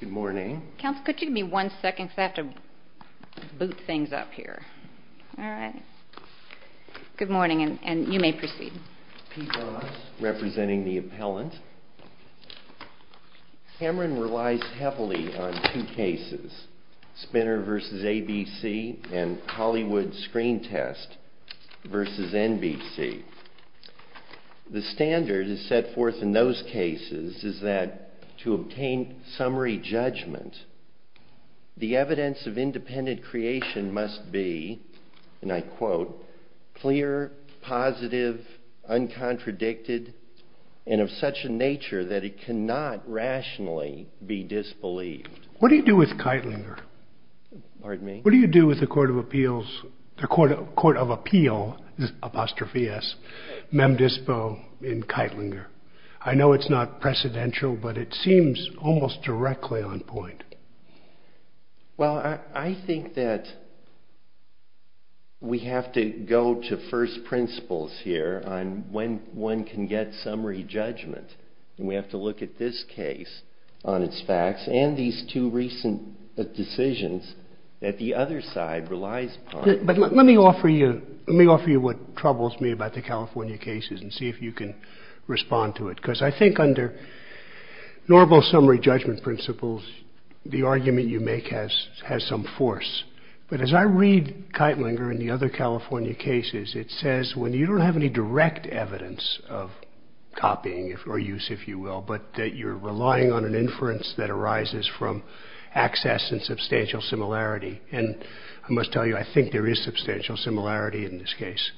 Good morning. Counsel could you give me one second because I have to boot things up here. All right. Good morning and you may proceed. Pete Ross representing the appellant. Cameron relies heavily on two cases, Spinner v. ABC and Hollywood Screen Test v. NBC. The standard is set forth in those cases is that to obtain summary judgment, the evidence of independent creation must be, and I quote, clear, positive, uncontradicted, and of such a nature that it cannot rationally be disbelieved. What do you do with Keitlinger? Pardon me? What do you do with the Court of Appeals, the Court of Appeal, apostrophe s, Mem Dispo in Well, I think that we have to go to first principles here on when one can get summary judgment and we have to look at this case on its facts and these two recent decisions that the other side relies upon. But let me offer you, let me offer you what troubles me about the California cases and see if you can summary judgment principles, the argument you make has some force. But as I read Keitlinger and the other California cases, it says when you don't have any direct evidence of copying or use, if you will, but that you're relying on an inference that arises from access and substantial similarity. And I must tell you, I think there is substantial similarity in this case.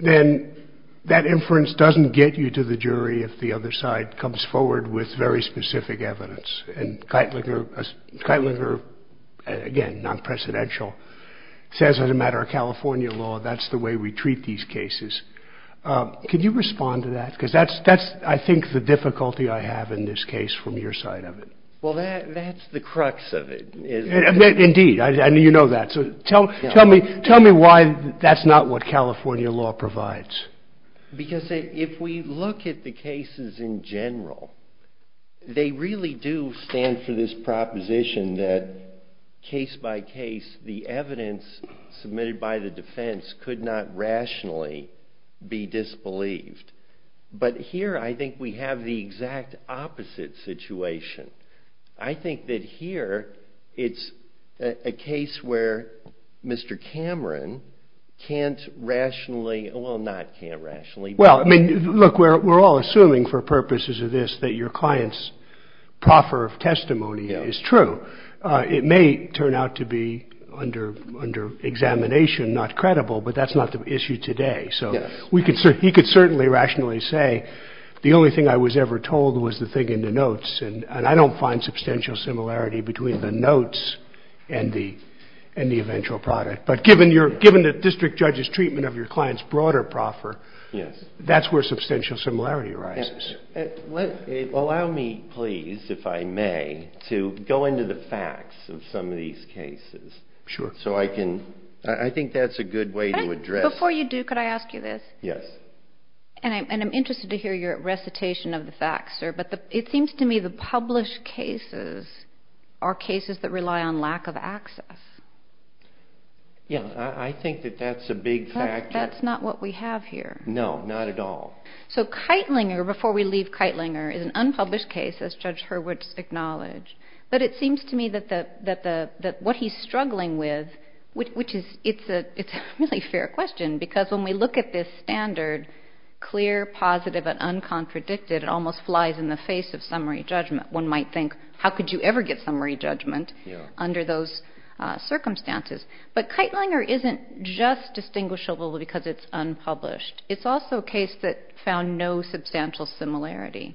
Then that inference doesn't get you to the jury if the other side comes forward with very specific evidence. And Keitlinger, again, non-presidential, says as a matter of California law, that's the way we treat these cases. Can you respond to that? Because that's, I think, the difficulty I have in this case from your side of it. Well, that's the crux of it. Indeed, I mean, you know that. So tell me why that's not what it is. Well, if you look at the cases in general, they really do stand for this proposition that case by case the evidence submitted by the defense could not rationally be disbelieved. But here I think we have the exact opposite situation. I think that here it's a case where Mr. Cameron can't rationally, well not can't rationally. Well, I mean, look, we're all assuming for purposes of this that your client's proffer of testimony is true. It may turn out to be under examination not credible, but that's not the issue today. So we could certainly, he could certainly rationally say the only thing I was ever told was the thing in the notes. And I don't find substantial similarity between the notes and the eventual product. But given the district judge's client's broader proffer, yes, that's where substantial similarity arises. Allow me please, if I may, to go into the facts of some of these cases. Sure. So I can, I think that's a good way to address. Before you do, could I ask you this? Yes. And I'm interested to hear your recitation of the facts, sir, but it seems to me the published cases are cases that rely on lack of access. Yeah, I think that's not what we have here. No, not at all. So Keitlinger, before we leave Keitlinger, is an unpublished case, as Judge Hurwitz acknowledged, but it seems to me that what he's struggling with, which is, it's a really fair question, because when we look at this standard, clear, positive, and uncontradicted, it almost flies in the face of summary judgment. One might think, how could you ever get summary judgment under those circumstances? But Keitlinger isn't just distinguishable because it's unpublished. It's also a case that found no substantial similarity.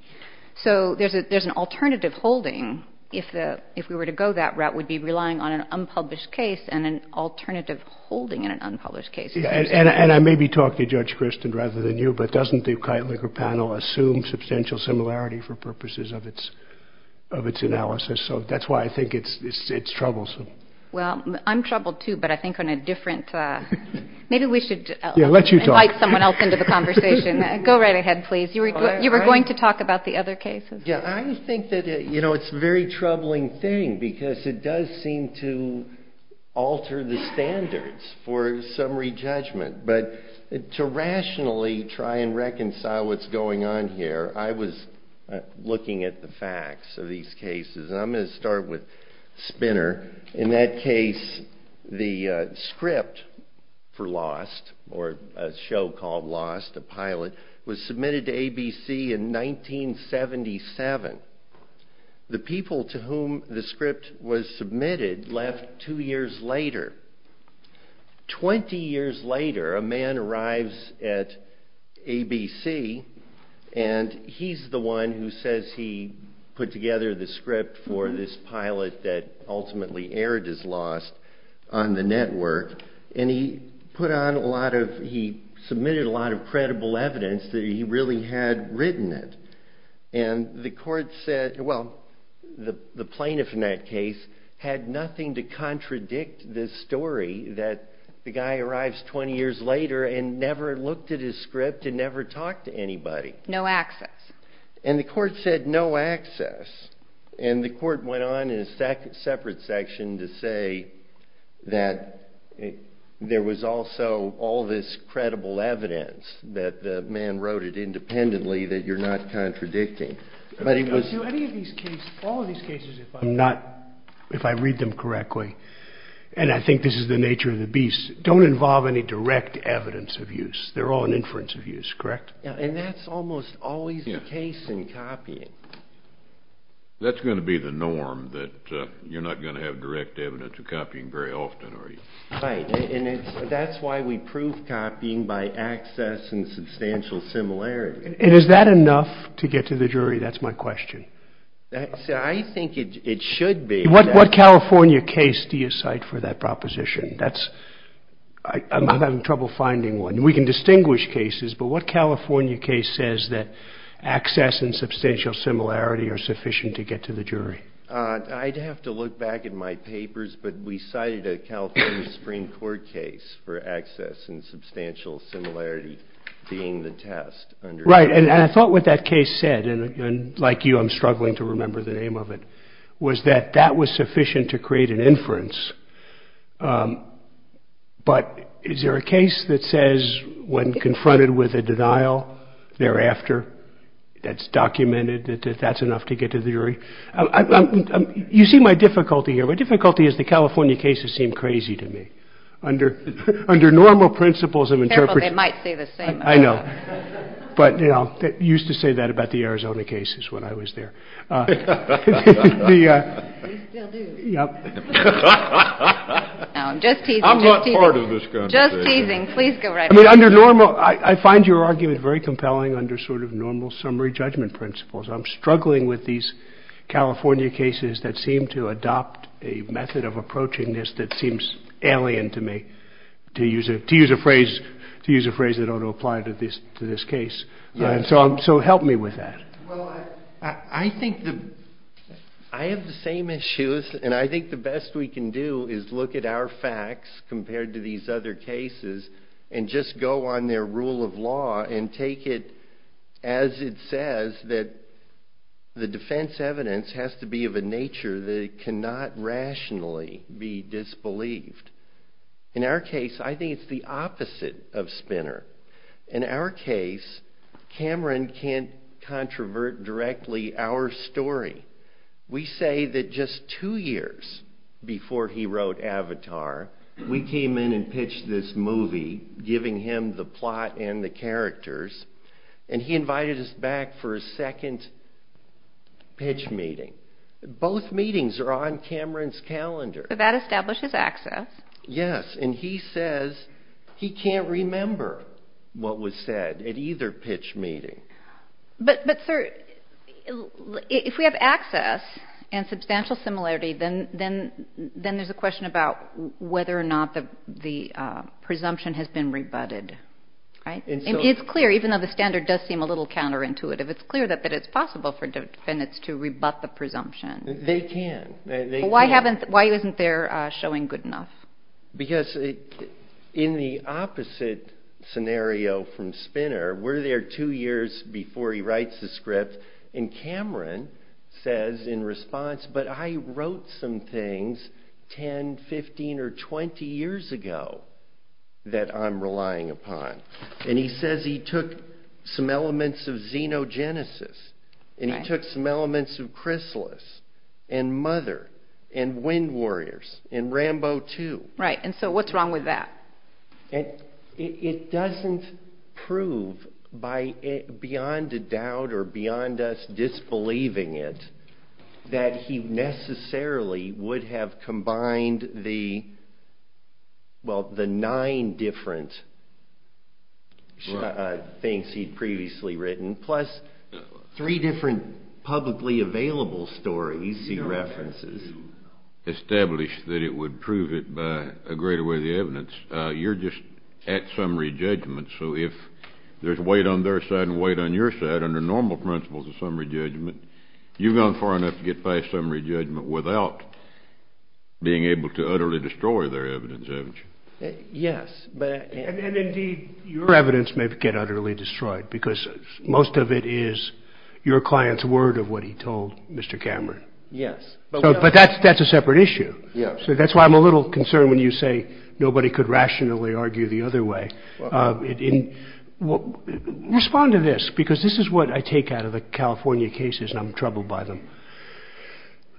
So there's an alternative holding. If we were to go that route, we'd be relying on an unpublished case and an alternative holding in an unpublished case. And I may be talking to Judge Kristin rather than you, but doesn't the Keitlinger panel assume substantial similarity for purposes of its analysis? So that's why I think it's troublesome. Well, I'm going to invite someone else into the conversation. Go right ahead, please. You were going to talk about the other cases. Yeah, I think that, you know, it's a very troubling thing, because it does seem to alter the standards for summary judgment. But to rationally try and reconcile what's going on here, I was looking at the facts of these cases. I'm going to start with Spinner. In that case, the script for Lost, or a show called Lost, a pilot, was submitted to ABC in 1977. The people to whom the script was submitted left two years later. Twenty years later, a man arrives at ABC, and he's the one who says he put together the script for this pilot that ultimately aired as Lost on the network. And he put on a lot of, he submitted a lot of credible evidence that he really had written it. And the court said, well, the plaintiff in that case had nothing to contradict this story that the guy arrives 20 years later and never looked at his script and never talked to anybody. No access. And the court said no access. And the court went on in a separate section to say that there was also all this credible evidence that the man wrote it independently that you're not contradicting. But it was... But to any of these cases, all of these cases, if I'm not, if I read them correctly, and I think this is the nature of the beast, don't involve any direct evidence of use. They're all an inference of use, correct? Yeah, and that's almost always the case in copying. That's going to be the norm that you're not going to have direct evidence of copying very often, are you? Right. And that's why we prove copying by access and substantial similarity. And is that enough to get to the jury? That's my question. I think it should be. What California case do you cite for that proposition? That's, I'm having trouble finding one. We can distinguish cases, but what California case says that access and substantial similarity are sufficient to get to the jury? I'd have to look back at my papers, but we cited a California Supreme Court case for access and substantial similarity being the test. Right. And I thought what that case said, and like you, I'm struggling to remember the name of it, was that that was sufficient to create an inference. But is there a case that says when confronted with a denial thereafter, that's documented, that that's enough to get to the jury? You see my difficulty here. My difficulty is the California cases seem crazy to me. Under normal principles of interpretation, they might say the same. I know. But, you know, they used to say that about the Arizona cases when I was there. I'm not part of this. Just teasing. Please go right under normal. I find your argument very compelling under sort of normal summary judgment principles. I'm struggling with these California cases that seem to adopt a method of approaching this that seems alien to me to use it, to use a phrase, to use a phrase that ought to apply to this, to this case. And so help me with that. Well, I think that I have the same issues and I think the best we can do is look at our facts compared to these other cases and just go on their rule of law and take it as it says that the defense evidence has to be of a nature that it cannot rationally be disbelieved. In our case, I think it's the opposite of Spinner. In our case, Cameron can't controvert directly our story. We say that just two years before he wrote Avatar, we came in and pitched this movie giving him the plot and the characters and he invited us back for a second pitch meeting. Both meetings are on Cameron's calendar. That establishes access. Yes. And he says he can't remember what was said at either pitch meeting. But, but sir, if we have access and substantial similarity, then then then there's a question about whether or not the presumption has been rebutted. Right. It's clear, even though the standard does seem a little counterintuitive, it's clear that that it's possible for defendants to rebut the presumption. They can. Why haven't, why isn't there showing good enough? Because in the opposite scenario from Spinner, we're there two years before he writes the script and Cameron says in response, but I wrote some things 10, 15 or 20 years ago that I'm relying upon. And he says he took some elements of xenogenesis and he took some elements of Right. And so what's wrong with that? And it doesn't prove by beyond a doubt or beyond us disbelieving it that he necessarily would have combined the. Well, the nine different. Things he'd previously written, plus three different publicly available stories, he agreed with the evidence. You're just at summary judgment. So if there's weight on their side and weight on your side under normal principles of summary judgment, you've gone far enough to get by summary judgment without being able to utterly destroy their evidence, haven't you? Yes. But and indeed, your evidence may get utterly destroyed because most of it is your client's word of what he told Mr. Cameron. Yes. But that's that's a separate issue. Yeah. So that's why I'm a little concerned when you say nobody could rationally argue the other way. It didn't respond to this because this is what I take out of the California cases and I'm troubled by them.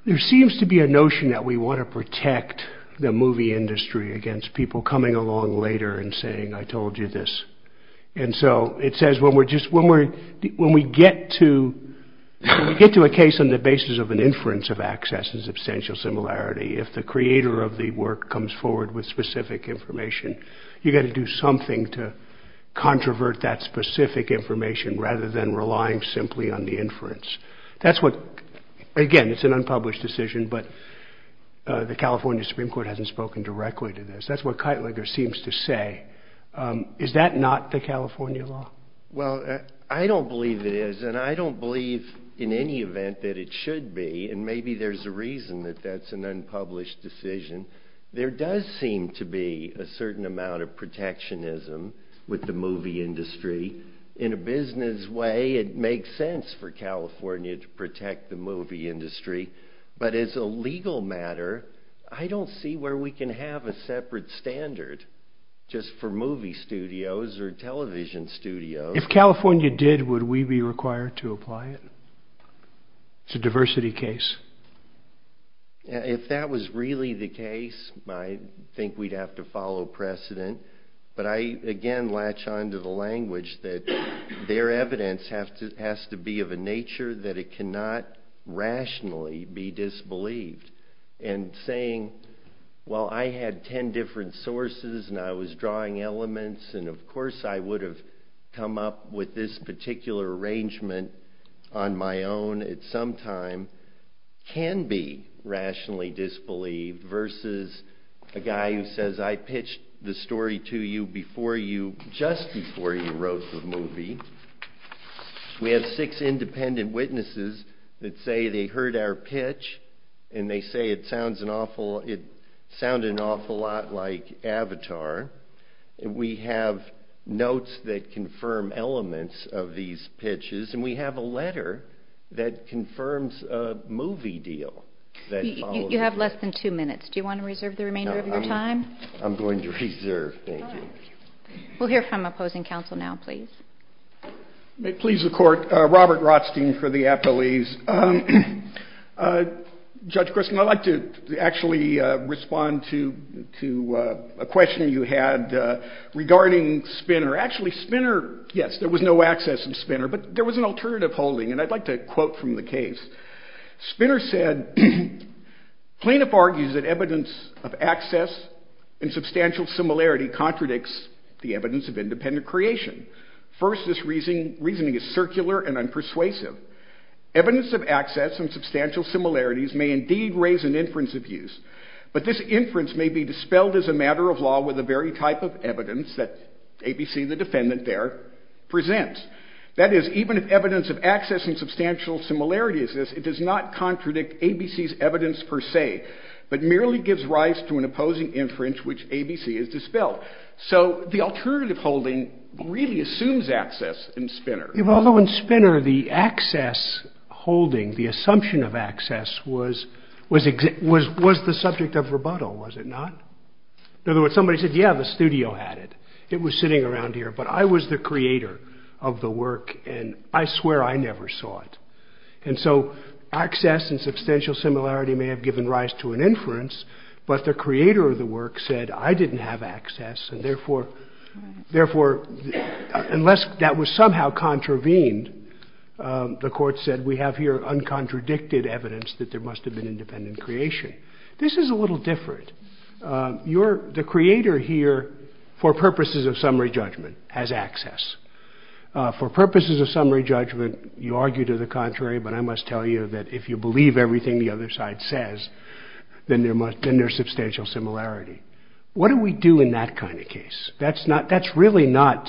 There seems to be a notion that we want to protect the movie industry against people coming along later and saying, I told you this. And so it says when we're just when we're when we get to get to a case on the basis of an inference of access and substantial similarity, if the creator of the work comes forward with specific information, you've got to do something to controvert that specific information rather than relying simply on the inference. That's what again, it's an unpublished decision, but the California Supreme Court hasn't spoken directly to this. That's what Keitlinger seems to say. Is that not the California law? Well, I don't believe it is and I don't believe in any event that it should be. And maybe there's a reason that that's an unpublished decision. There does seem to be a certain amount of protectionism with the movie industry in a business way. It makes sense for California to protect the movie industry. But as a legal matter, I don't see where we can have a separate standard just for movie studios or television studios. If California did, would we be required to apply it? It's a diversity case. If that was really the case, I think we'd have to follow precedent, but I again latch on to the language that their evidence have to has to be of a nature that it cannot rationally be disbelieved and saying, well, I had 10 different sources and I was drawing elements. And of course, I would have come up with this particular arrangement on my own at some time can be rationally disbelieved versus a guy who says, I pitched the story to you before you just before you wrote the movie. We have six independent witnesses that say they heard our pitch and they say it sounds an awful it sounded an awful lot like Avatar. And we have notes that confirm elements of these pitches. And we have a letter that confirms a movie deal that you have less than two minutes. Do you want to reserve the remainder of your time? I'm going to reserve. We'll hear from opposing counsel now, please. Please, the court. Robert Rothstein for the appellees. Judge Grissom, I'd like to actually respond to a question you had regarding Spinner. Actually, Spinner, yes, there was no access in Spinner, but there was an alternative holding. And I'd like to quote from the case. Spinner said, Plaintiff argues that evidence of access and substantial similarity contradicts the evidence of independent creation. First, this reasoning is circular and unpersuasive. Evidence of access and substantial similarities may indeed raise an inference of use, but this inference may be dispelled as a matter of law with the very type of evidence that ABC, the defendant there, presents. That is, even if evidence of access and substantial similarity exists, it does not contradict ABC's evidence per se, but merely gives rise to an opposing inference, which ABC is dispelled. So the alternative holding really assumes access in Spinner. Although in Spinner, the access holding, the assumption of access was the subject of rebuttal, was it not? In other words, somebody said, yeah, the studio had it. It was sitting around here. But I was the creator of the work and I swear I never saw it. And so access and substantial similarity may have given rise to an inference. But the creator of the work said I didn't have access. And therefore, unless that was somehow contravened, the court said we have here uncontradicted evidence that there must have been independent creation. This is a little different. The creator here, for purposes of summary judgment, has access. For purposes of summary judgment, you argue to the contrary, but I must tell you that if you believe everything the other side says, then there's substantial similarity. What do we do in that kind of case? That's not that's really not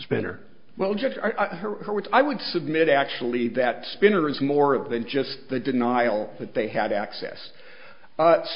Spinner. Well, Judge Hurwitz, I would submit, actually, that Spinner is more than just the denial that they had access.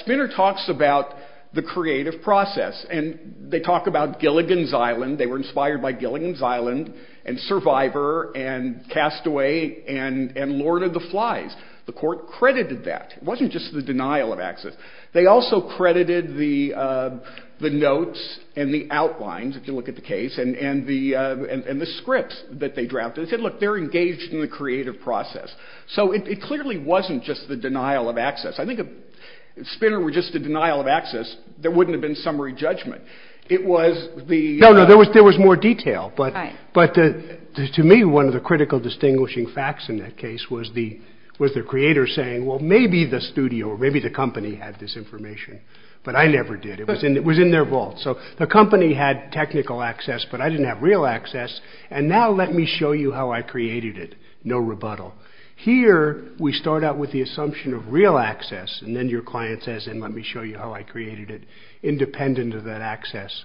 Spinner talks about the creative process and they talk about Gilligan's Island. They were inspired by Gilligan's Island and Survivor and Castaway and Lord of the Flies. The court credited that. It wasn't just the denial of access. They also credited the the notes and the outlines, if you look at the case, and the and the scripts that they drafted said, look, they're engaged in the creative process. So it clearly wasn't just the denial of access. I think if Spinner were just a denial of access, there wouldn't have been summary judgment. It was the no, no, there was there was more detail. But but to me, one of the critical distinguishing facts in that case was the was the studio or maybe the company had this information, but I never did. It was in it was in their vault. So the company had technical access, but I didn't have real access. And now let me show you how I created it. No rebuttal here. We start out with the assumption of real access. And then your client says, and let me show you how I created it, independent of that access.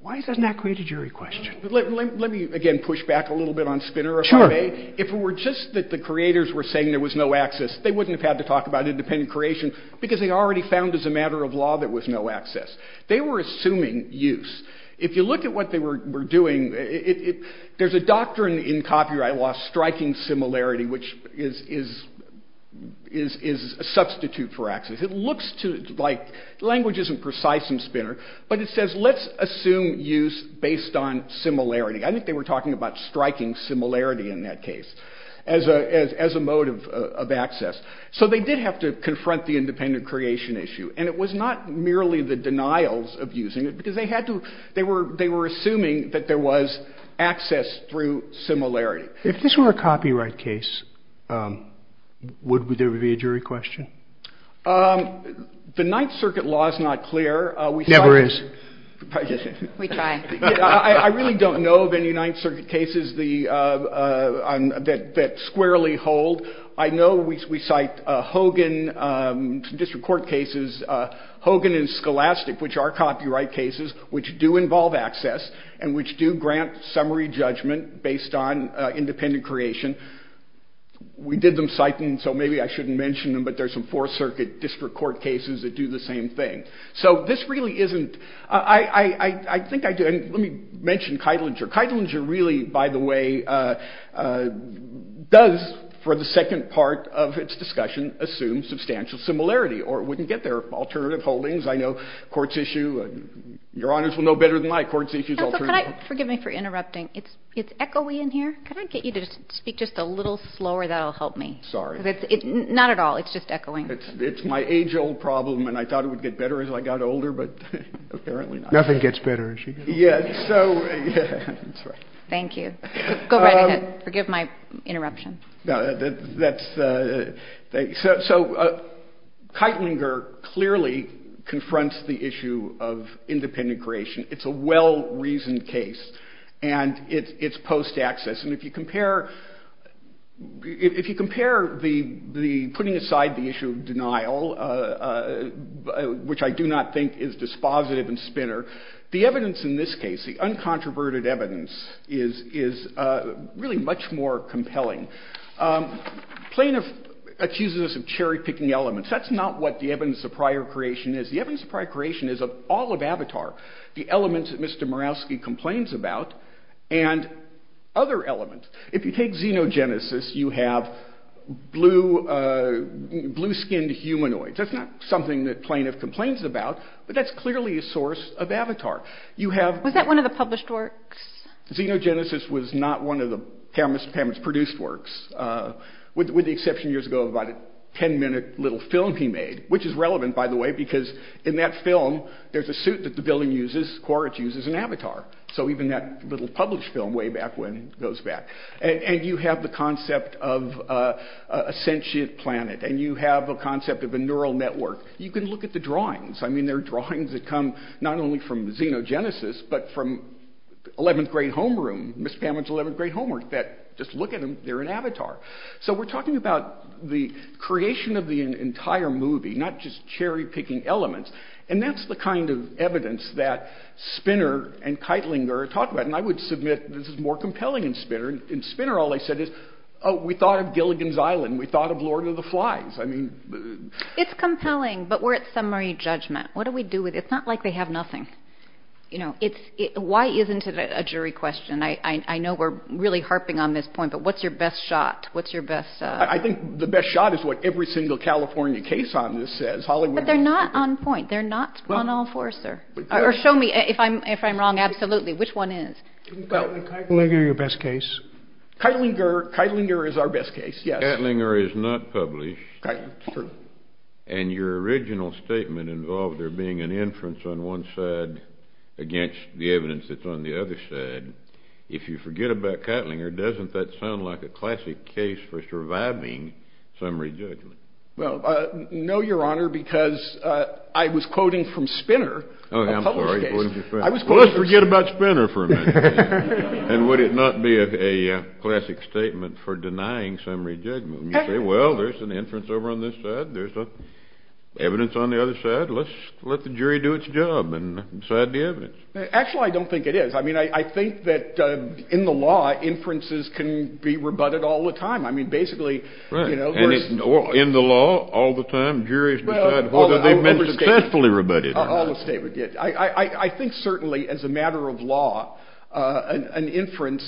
Why doesn't that create a jury question? Let me again push back a little bit on Spinner. If it were just that the creators were saying there was no access, they wouldn't have to talk about independent creation because they already found as a matter of law that was no access. They were assuming use. If you look at what they were doing, there's a doctrine in copyright law, striking similarity, which is is is is a substitute for access. It looks to like language isn't precise in Spinner, but it says, let's assume use based on similarity. I think they were talking about striking similarity in that case as a as a mode of access. So they did have to confront the independent creation issue. And it was not merely the denials of using it because they had to. They were they were assuming that there was access through similarity. If this were a copyright case, would there be a jury question? The Ninth Circuit law is not clear. We never is. We try. I really don't know of any Ninth Circuit cases that squarely hold. I know we cite Hogan district court cases, Hogan and Scholastic, which are copyright cases which do involve access and which do grant summary judgment based on independent creation. We did them citing, so maybe I shouldn't mention them, but there's some Fourth Circuit district court cases that do the same thing. So this really isn't I think I do. Let me mention Keitlinger. Keitlinger really, by the way, does for the second part of its discussion, assume substantial similarity or wouldn't get their alternative holdings. I know courts issue and your honors will know better than my courts issues. Forgive me for interrupting. It's it's echoey in here. Can I get you to speak just a little slower? That'll help me. Sorry. It's not at all. It's just echoing. It's my age old problem. And I thought it would get better as I got older. But apparently nothing gets better. Yes. So thank you. Go right ahead. Forgive my interruption. That's so Keitlinger clearly confronts the issue of independent creation. It's a well-reasoned case and it's post access. And if you compare if you compare the the putting aside the issue of denial, which I do not think is dispositive and spinner, the evidence in this case, the uncontroverted evidence is is really much more compelling. Plaintiff accuses us of cherry picking elements. That's not what the evidence of prior creation is. The evidence of prior creation is of all of Avatar, the elements that Mr. Murawski complains about and other elements. If you take xenogenesis, you have blue, blue skinned humanoids. That's not something that plaintiff complains about, but that's clearly a source of Avatar. You have. Was that one of the published works? Xenogenesis was not one of the cameras produced works, with the exception years ago of about a 10 minute little film he made, which is relevant, by the way, because in that film there's a suit that the villain uses. Quaritch uses an avatar. So even that little published film way back when goes back and you have the concept of a sentient planet and you have a concept of a neural network, you can look at the drawings. I mean, they're drawings that come not only from xenogenesis, but from 11th grade homeroom, Miss Pamela's 11th grade homework that just look at them. They're an avatar. So we're talking about the creation of the entire movie, not just cherry picking elements. And that's the kind of evidence that Spinner and Keitling are talking about. And I would submit this is more compelling and Spinner and Spinner. All I said is, oh, we thought of Gilligan's Island. We thought of Lord of the Flies. I mean, it's compelling, but we're at summary judgment. What do we do with it? It's not like they have nothing. You know, it's why isn't it a jury question? I know we're really harping on this point, but what's your best shot? What's your best? I think the best shot is what every single California case on this says. Hollywood, but they're not on point. They're not on all four, sir. Or show me if I'm, if I'm wrong. Absolutely. Which one is your best case? Keitlinger. Keitlinger is our best case. Keitlinger is not published. And your original statement involved there being an inference on one side against the evidence that's on the other side. If you forget about Keitlinger, doesn't that sound like a classic case for surviving summary judgment? Well, no, your honor, because I was quoting from Spinner. Oh, I'm sorry. I was going to forget about Spinner for a minute. And would it not be a classic statement for denying summary judgment? You say, well, there's an inference over on this side. There's no evidence on the other side. Let's let the jury do its job and decide the evidence. Actually, I don't think it is. I mean, I think that in the law, inferences can be rebutted all the time. I mean, basically, you know, in the law all the time, juries decide whether they've been successfully rebutted. I think certainly as a matter of law, an inference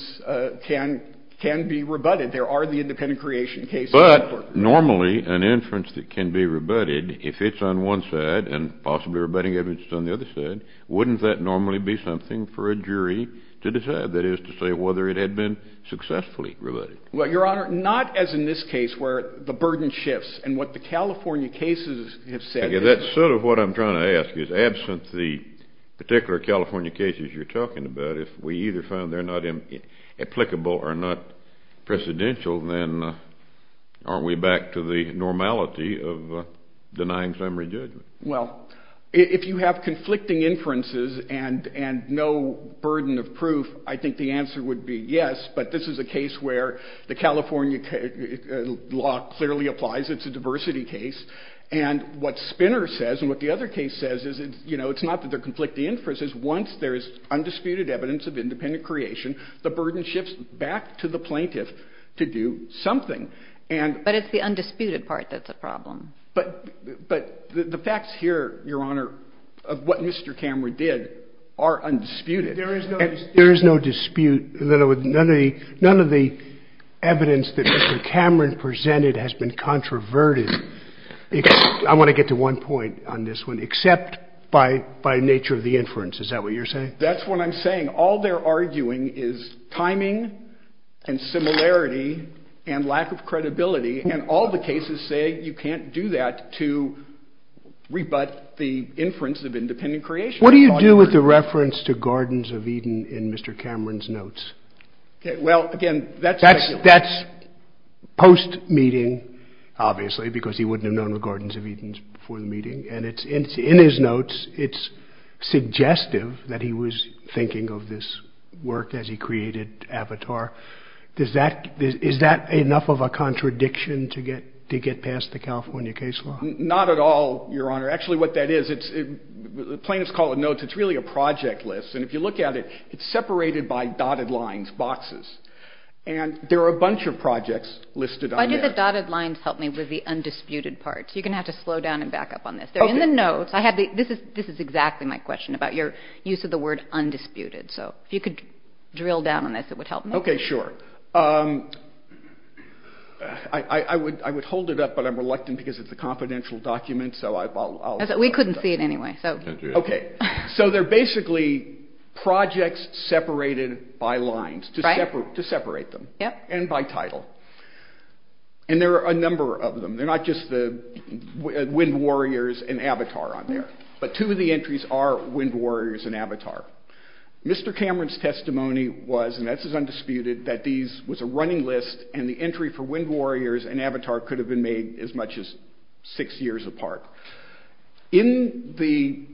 can be rebutted. There are the independent creation case. But normally an inference that can be rebutted, if it's on one side and possibly rebutting evidence on the other side, wouldn't that normally be something for a jury to decide? That is to say, whether it had been successfully rebutted. Well, your honor, not as in this case where the burden shifts and what the California cases have said. That's sort of what I'm trying to ask is, absent the particular California cases you're talking about, if we either found they're not applicable or not precedential, then aren't we back to the normality of denying summary judgment? Well, if you have conflicting inferences and no burden of proof, I think the answer would be yes. But this is a case where the California law clearly applies. It's a diversity case. And what Spinner says and what the other case says is, you know, it's not that they're conflicting inferences. Once there is undisputed evidence of independent creation, the burden shifts back to the plaintiff to do something. But it's the undisputed part that's a problem. But the facts here, your honor, of what Mr. Cameron did are undisputed. There is no dispute that none of the evidence that Mr. Cameron presented has been controverted. I want to get to one point on this one. Except by nature of the inference. Is that what you're saying? That's what I'm saying. All they're arguing is timing and similarity and lack of credibility. And all the cases say you can't do that to rebut the inference of independent creation. What do you do with the reference to Gardens of Eden in Mr. Cameron's notes? Well, again, that's post-meeting, obviously, because he wouldn't have known the Gardens of Eden before the meeting. And it's in his notes, it's suggestive that he was thinking of this work as he created Avatar. Is that enough of a contradiction to get to get past the California case law? Not at all, your honor. Actually, what that is, plaintiffs call it notes. It's really a project list. And if you look at it, it's separated by dotted lines, boxes. And there are a bunch of projects listed. Why do the dotted lines help me with the undisputed parts? You're going to have to slow down and back up on this. They're in the notes. I have the this is this is exactly my question about your use of the word undisputed. So if you could drill down on this, it would help me. OK, sure. I would I would hold it up, but I'm reluctant because it's a confidential document. So we couldn't see it anyway. OK, so they're basically projects separated by lines to separate them and by title. And there are a number of them. They're not just the Wind Warriors and Avatar on there. But two of the entries are Wind Warriors and Avatar. Mr. Cameron's testimony was, and this is undisputed, that these was a running list and the entry for Wind Warriors and Avatar could have been made as much as six years apart. In the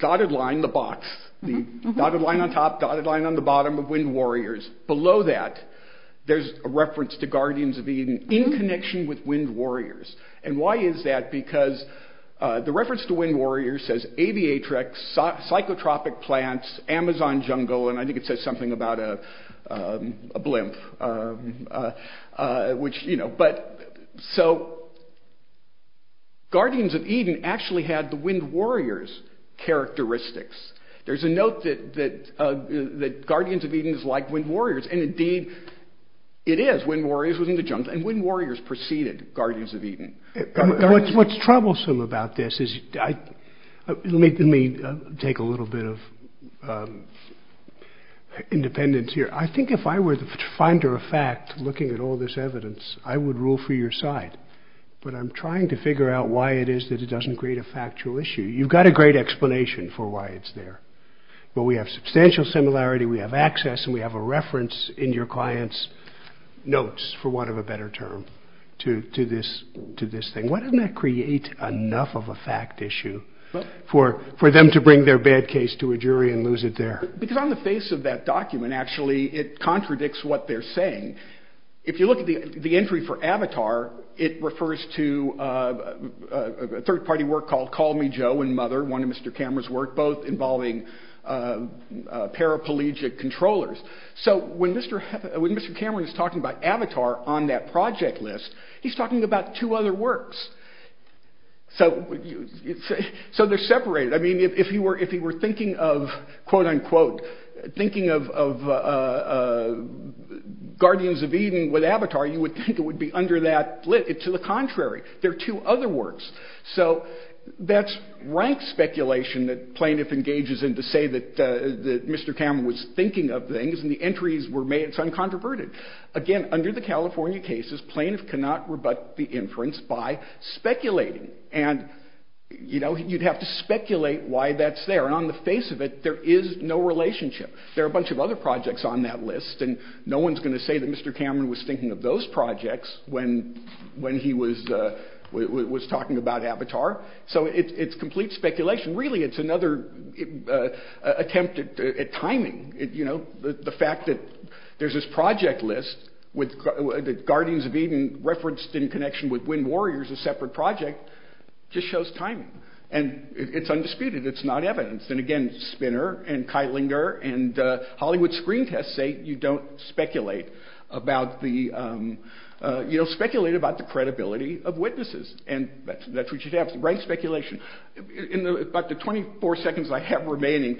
dotted line, the box, the dotted line on top, dotted line on the bottom of Wind Warriors. Below that, there's a reference to Guardians of Eden in connection with Wind Warriors. And why is that? Because the reference to Wind Warriors says aviatrix, psychotropic plants, Amazon jungle. And I think it says something about a blimp, which, you know. So. Guardians of Eden actually had the Wind Warriors characteristics. There's a note that that the Guardians of Eden is like Wind Warriors, and indeed it is. Wind Warriors was in the jungle and Wind Warriors preceded Guardians of Eden. What's troublesome about this is, let me take a little bit of independence here. I think if I were the finder of fact, looking at all this evidence, I would rule for your side. But I'm trying to figure out why it is that it doesn't create a factual issue. You've got a great explanation for why it's there. But we have substantial similarity, we have access, and we have a reference in your client's notes, for want of a better term, to this thing. Why doesn't that create enough of a fact issue for them to bring their bad case to a jury and lose it there? Because on the face of that document, actually, it contradicts what they're saying. If you look at the entry for Avatar, it refers to a third-party work called Call Me Joe and Mother, one of Mr. Cameron's work, both involving paraplegic controllers. So when Mr. Cameron is talking about Avatar on that project list, he's talking about two other works. So they're separated. I mean, if he were thinking of, quote-unquote, thinking of Guardians of Eden with Avatar, you would think it would be under that list. To the contrary, they're two other works. So that's rank speculation that plaintiff engages in to say that Mr. Cameron was thinking of things, and the entries were made, it's uncontroverted. Again, under the California cases, plaintiff cannot rebut the inference by speculating. And, you know, you'd have to speculate why that's there. And on the face of it, there is no relationship. There are a bunch of other projects on that list, and no one's going to say that Mr. Cameron was thinking of those projects when he was talking about Avatar. So it's complete speculation. Really, it's another attempt at timing, you know, the fact that there's this project list that Guardians of Eden referenced in connection with Wind Warriors, a separate project, just shows timing, and it's undisputed. It's not evidenced. And again, Spinner and Keilinger and Hollywood screen tests say you don't speculate about the, you know, speculate about the credibility of witnesses. And that's what you have, rank speculation. In about the 24 seconds I have remaining,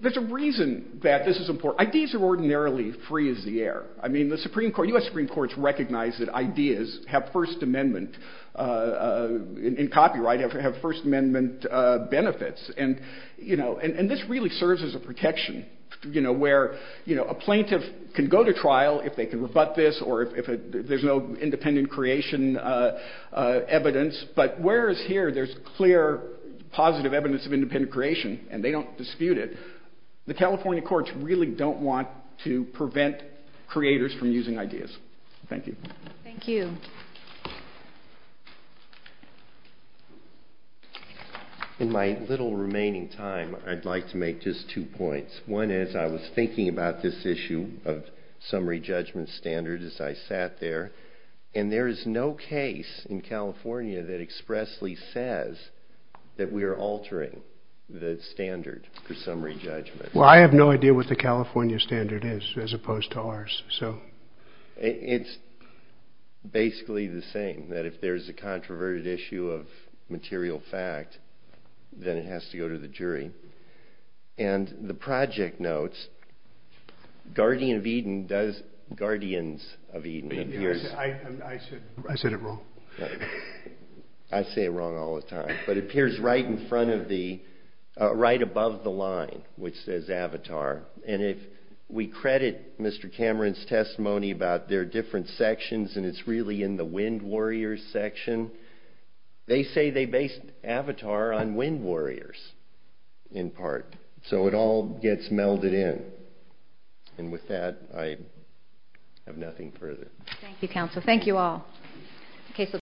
there's a reason that this is important. Ideas are ordinarily free as the air. I mean, the Supreme Court, U.S. Supreme Courts recognize that ideas have First Amendment, in copyright, have First Amendment benefits. And, you know, and this really serves as a protection, you know, where, you know, a plaintiff can go to trial if they can rebut this or if there's no independent creation evidence. But whereas here, there's clear, positive evidence of independent creation, and they don't dispute it, the California courts really don't want to prevent creators from using ideas. Thank you. Thank you. In my little remaining time, I'd like to make just two points. One is, I was thinking about this issue of summary judgment standard as I sat there. And there is no case in California that expressly says that we are altering the standard for summary judgment. Well, I have no idea what the California standard is as opposed to ours. So. It's basically the same, that if there's a controverted issue of material fact, then it has to go to the jury. And the project notes, Guardian of Eden does, Guardians of Eden appears. I said it wrong. I say it wrong all the time. But it appears right in front of the, right above the line, which says Avatar. And if we credit Mr. Cameron's testimony about their different sections, and it's really in the Wind Warriors section, they say they based Avatar on Wind Warriors, in part. So it all gets melded in. And with that, I have nothing further. Thank you, counsel. Thank you all. Okay. So.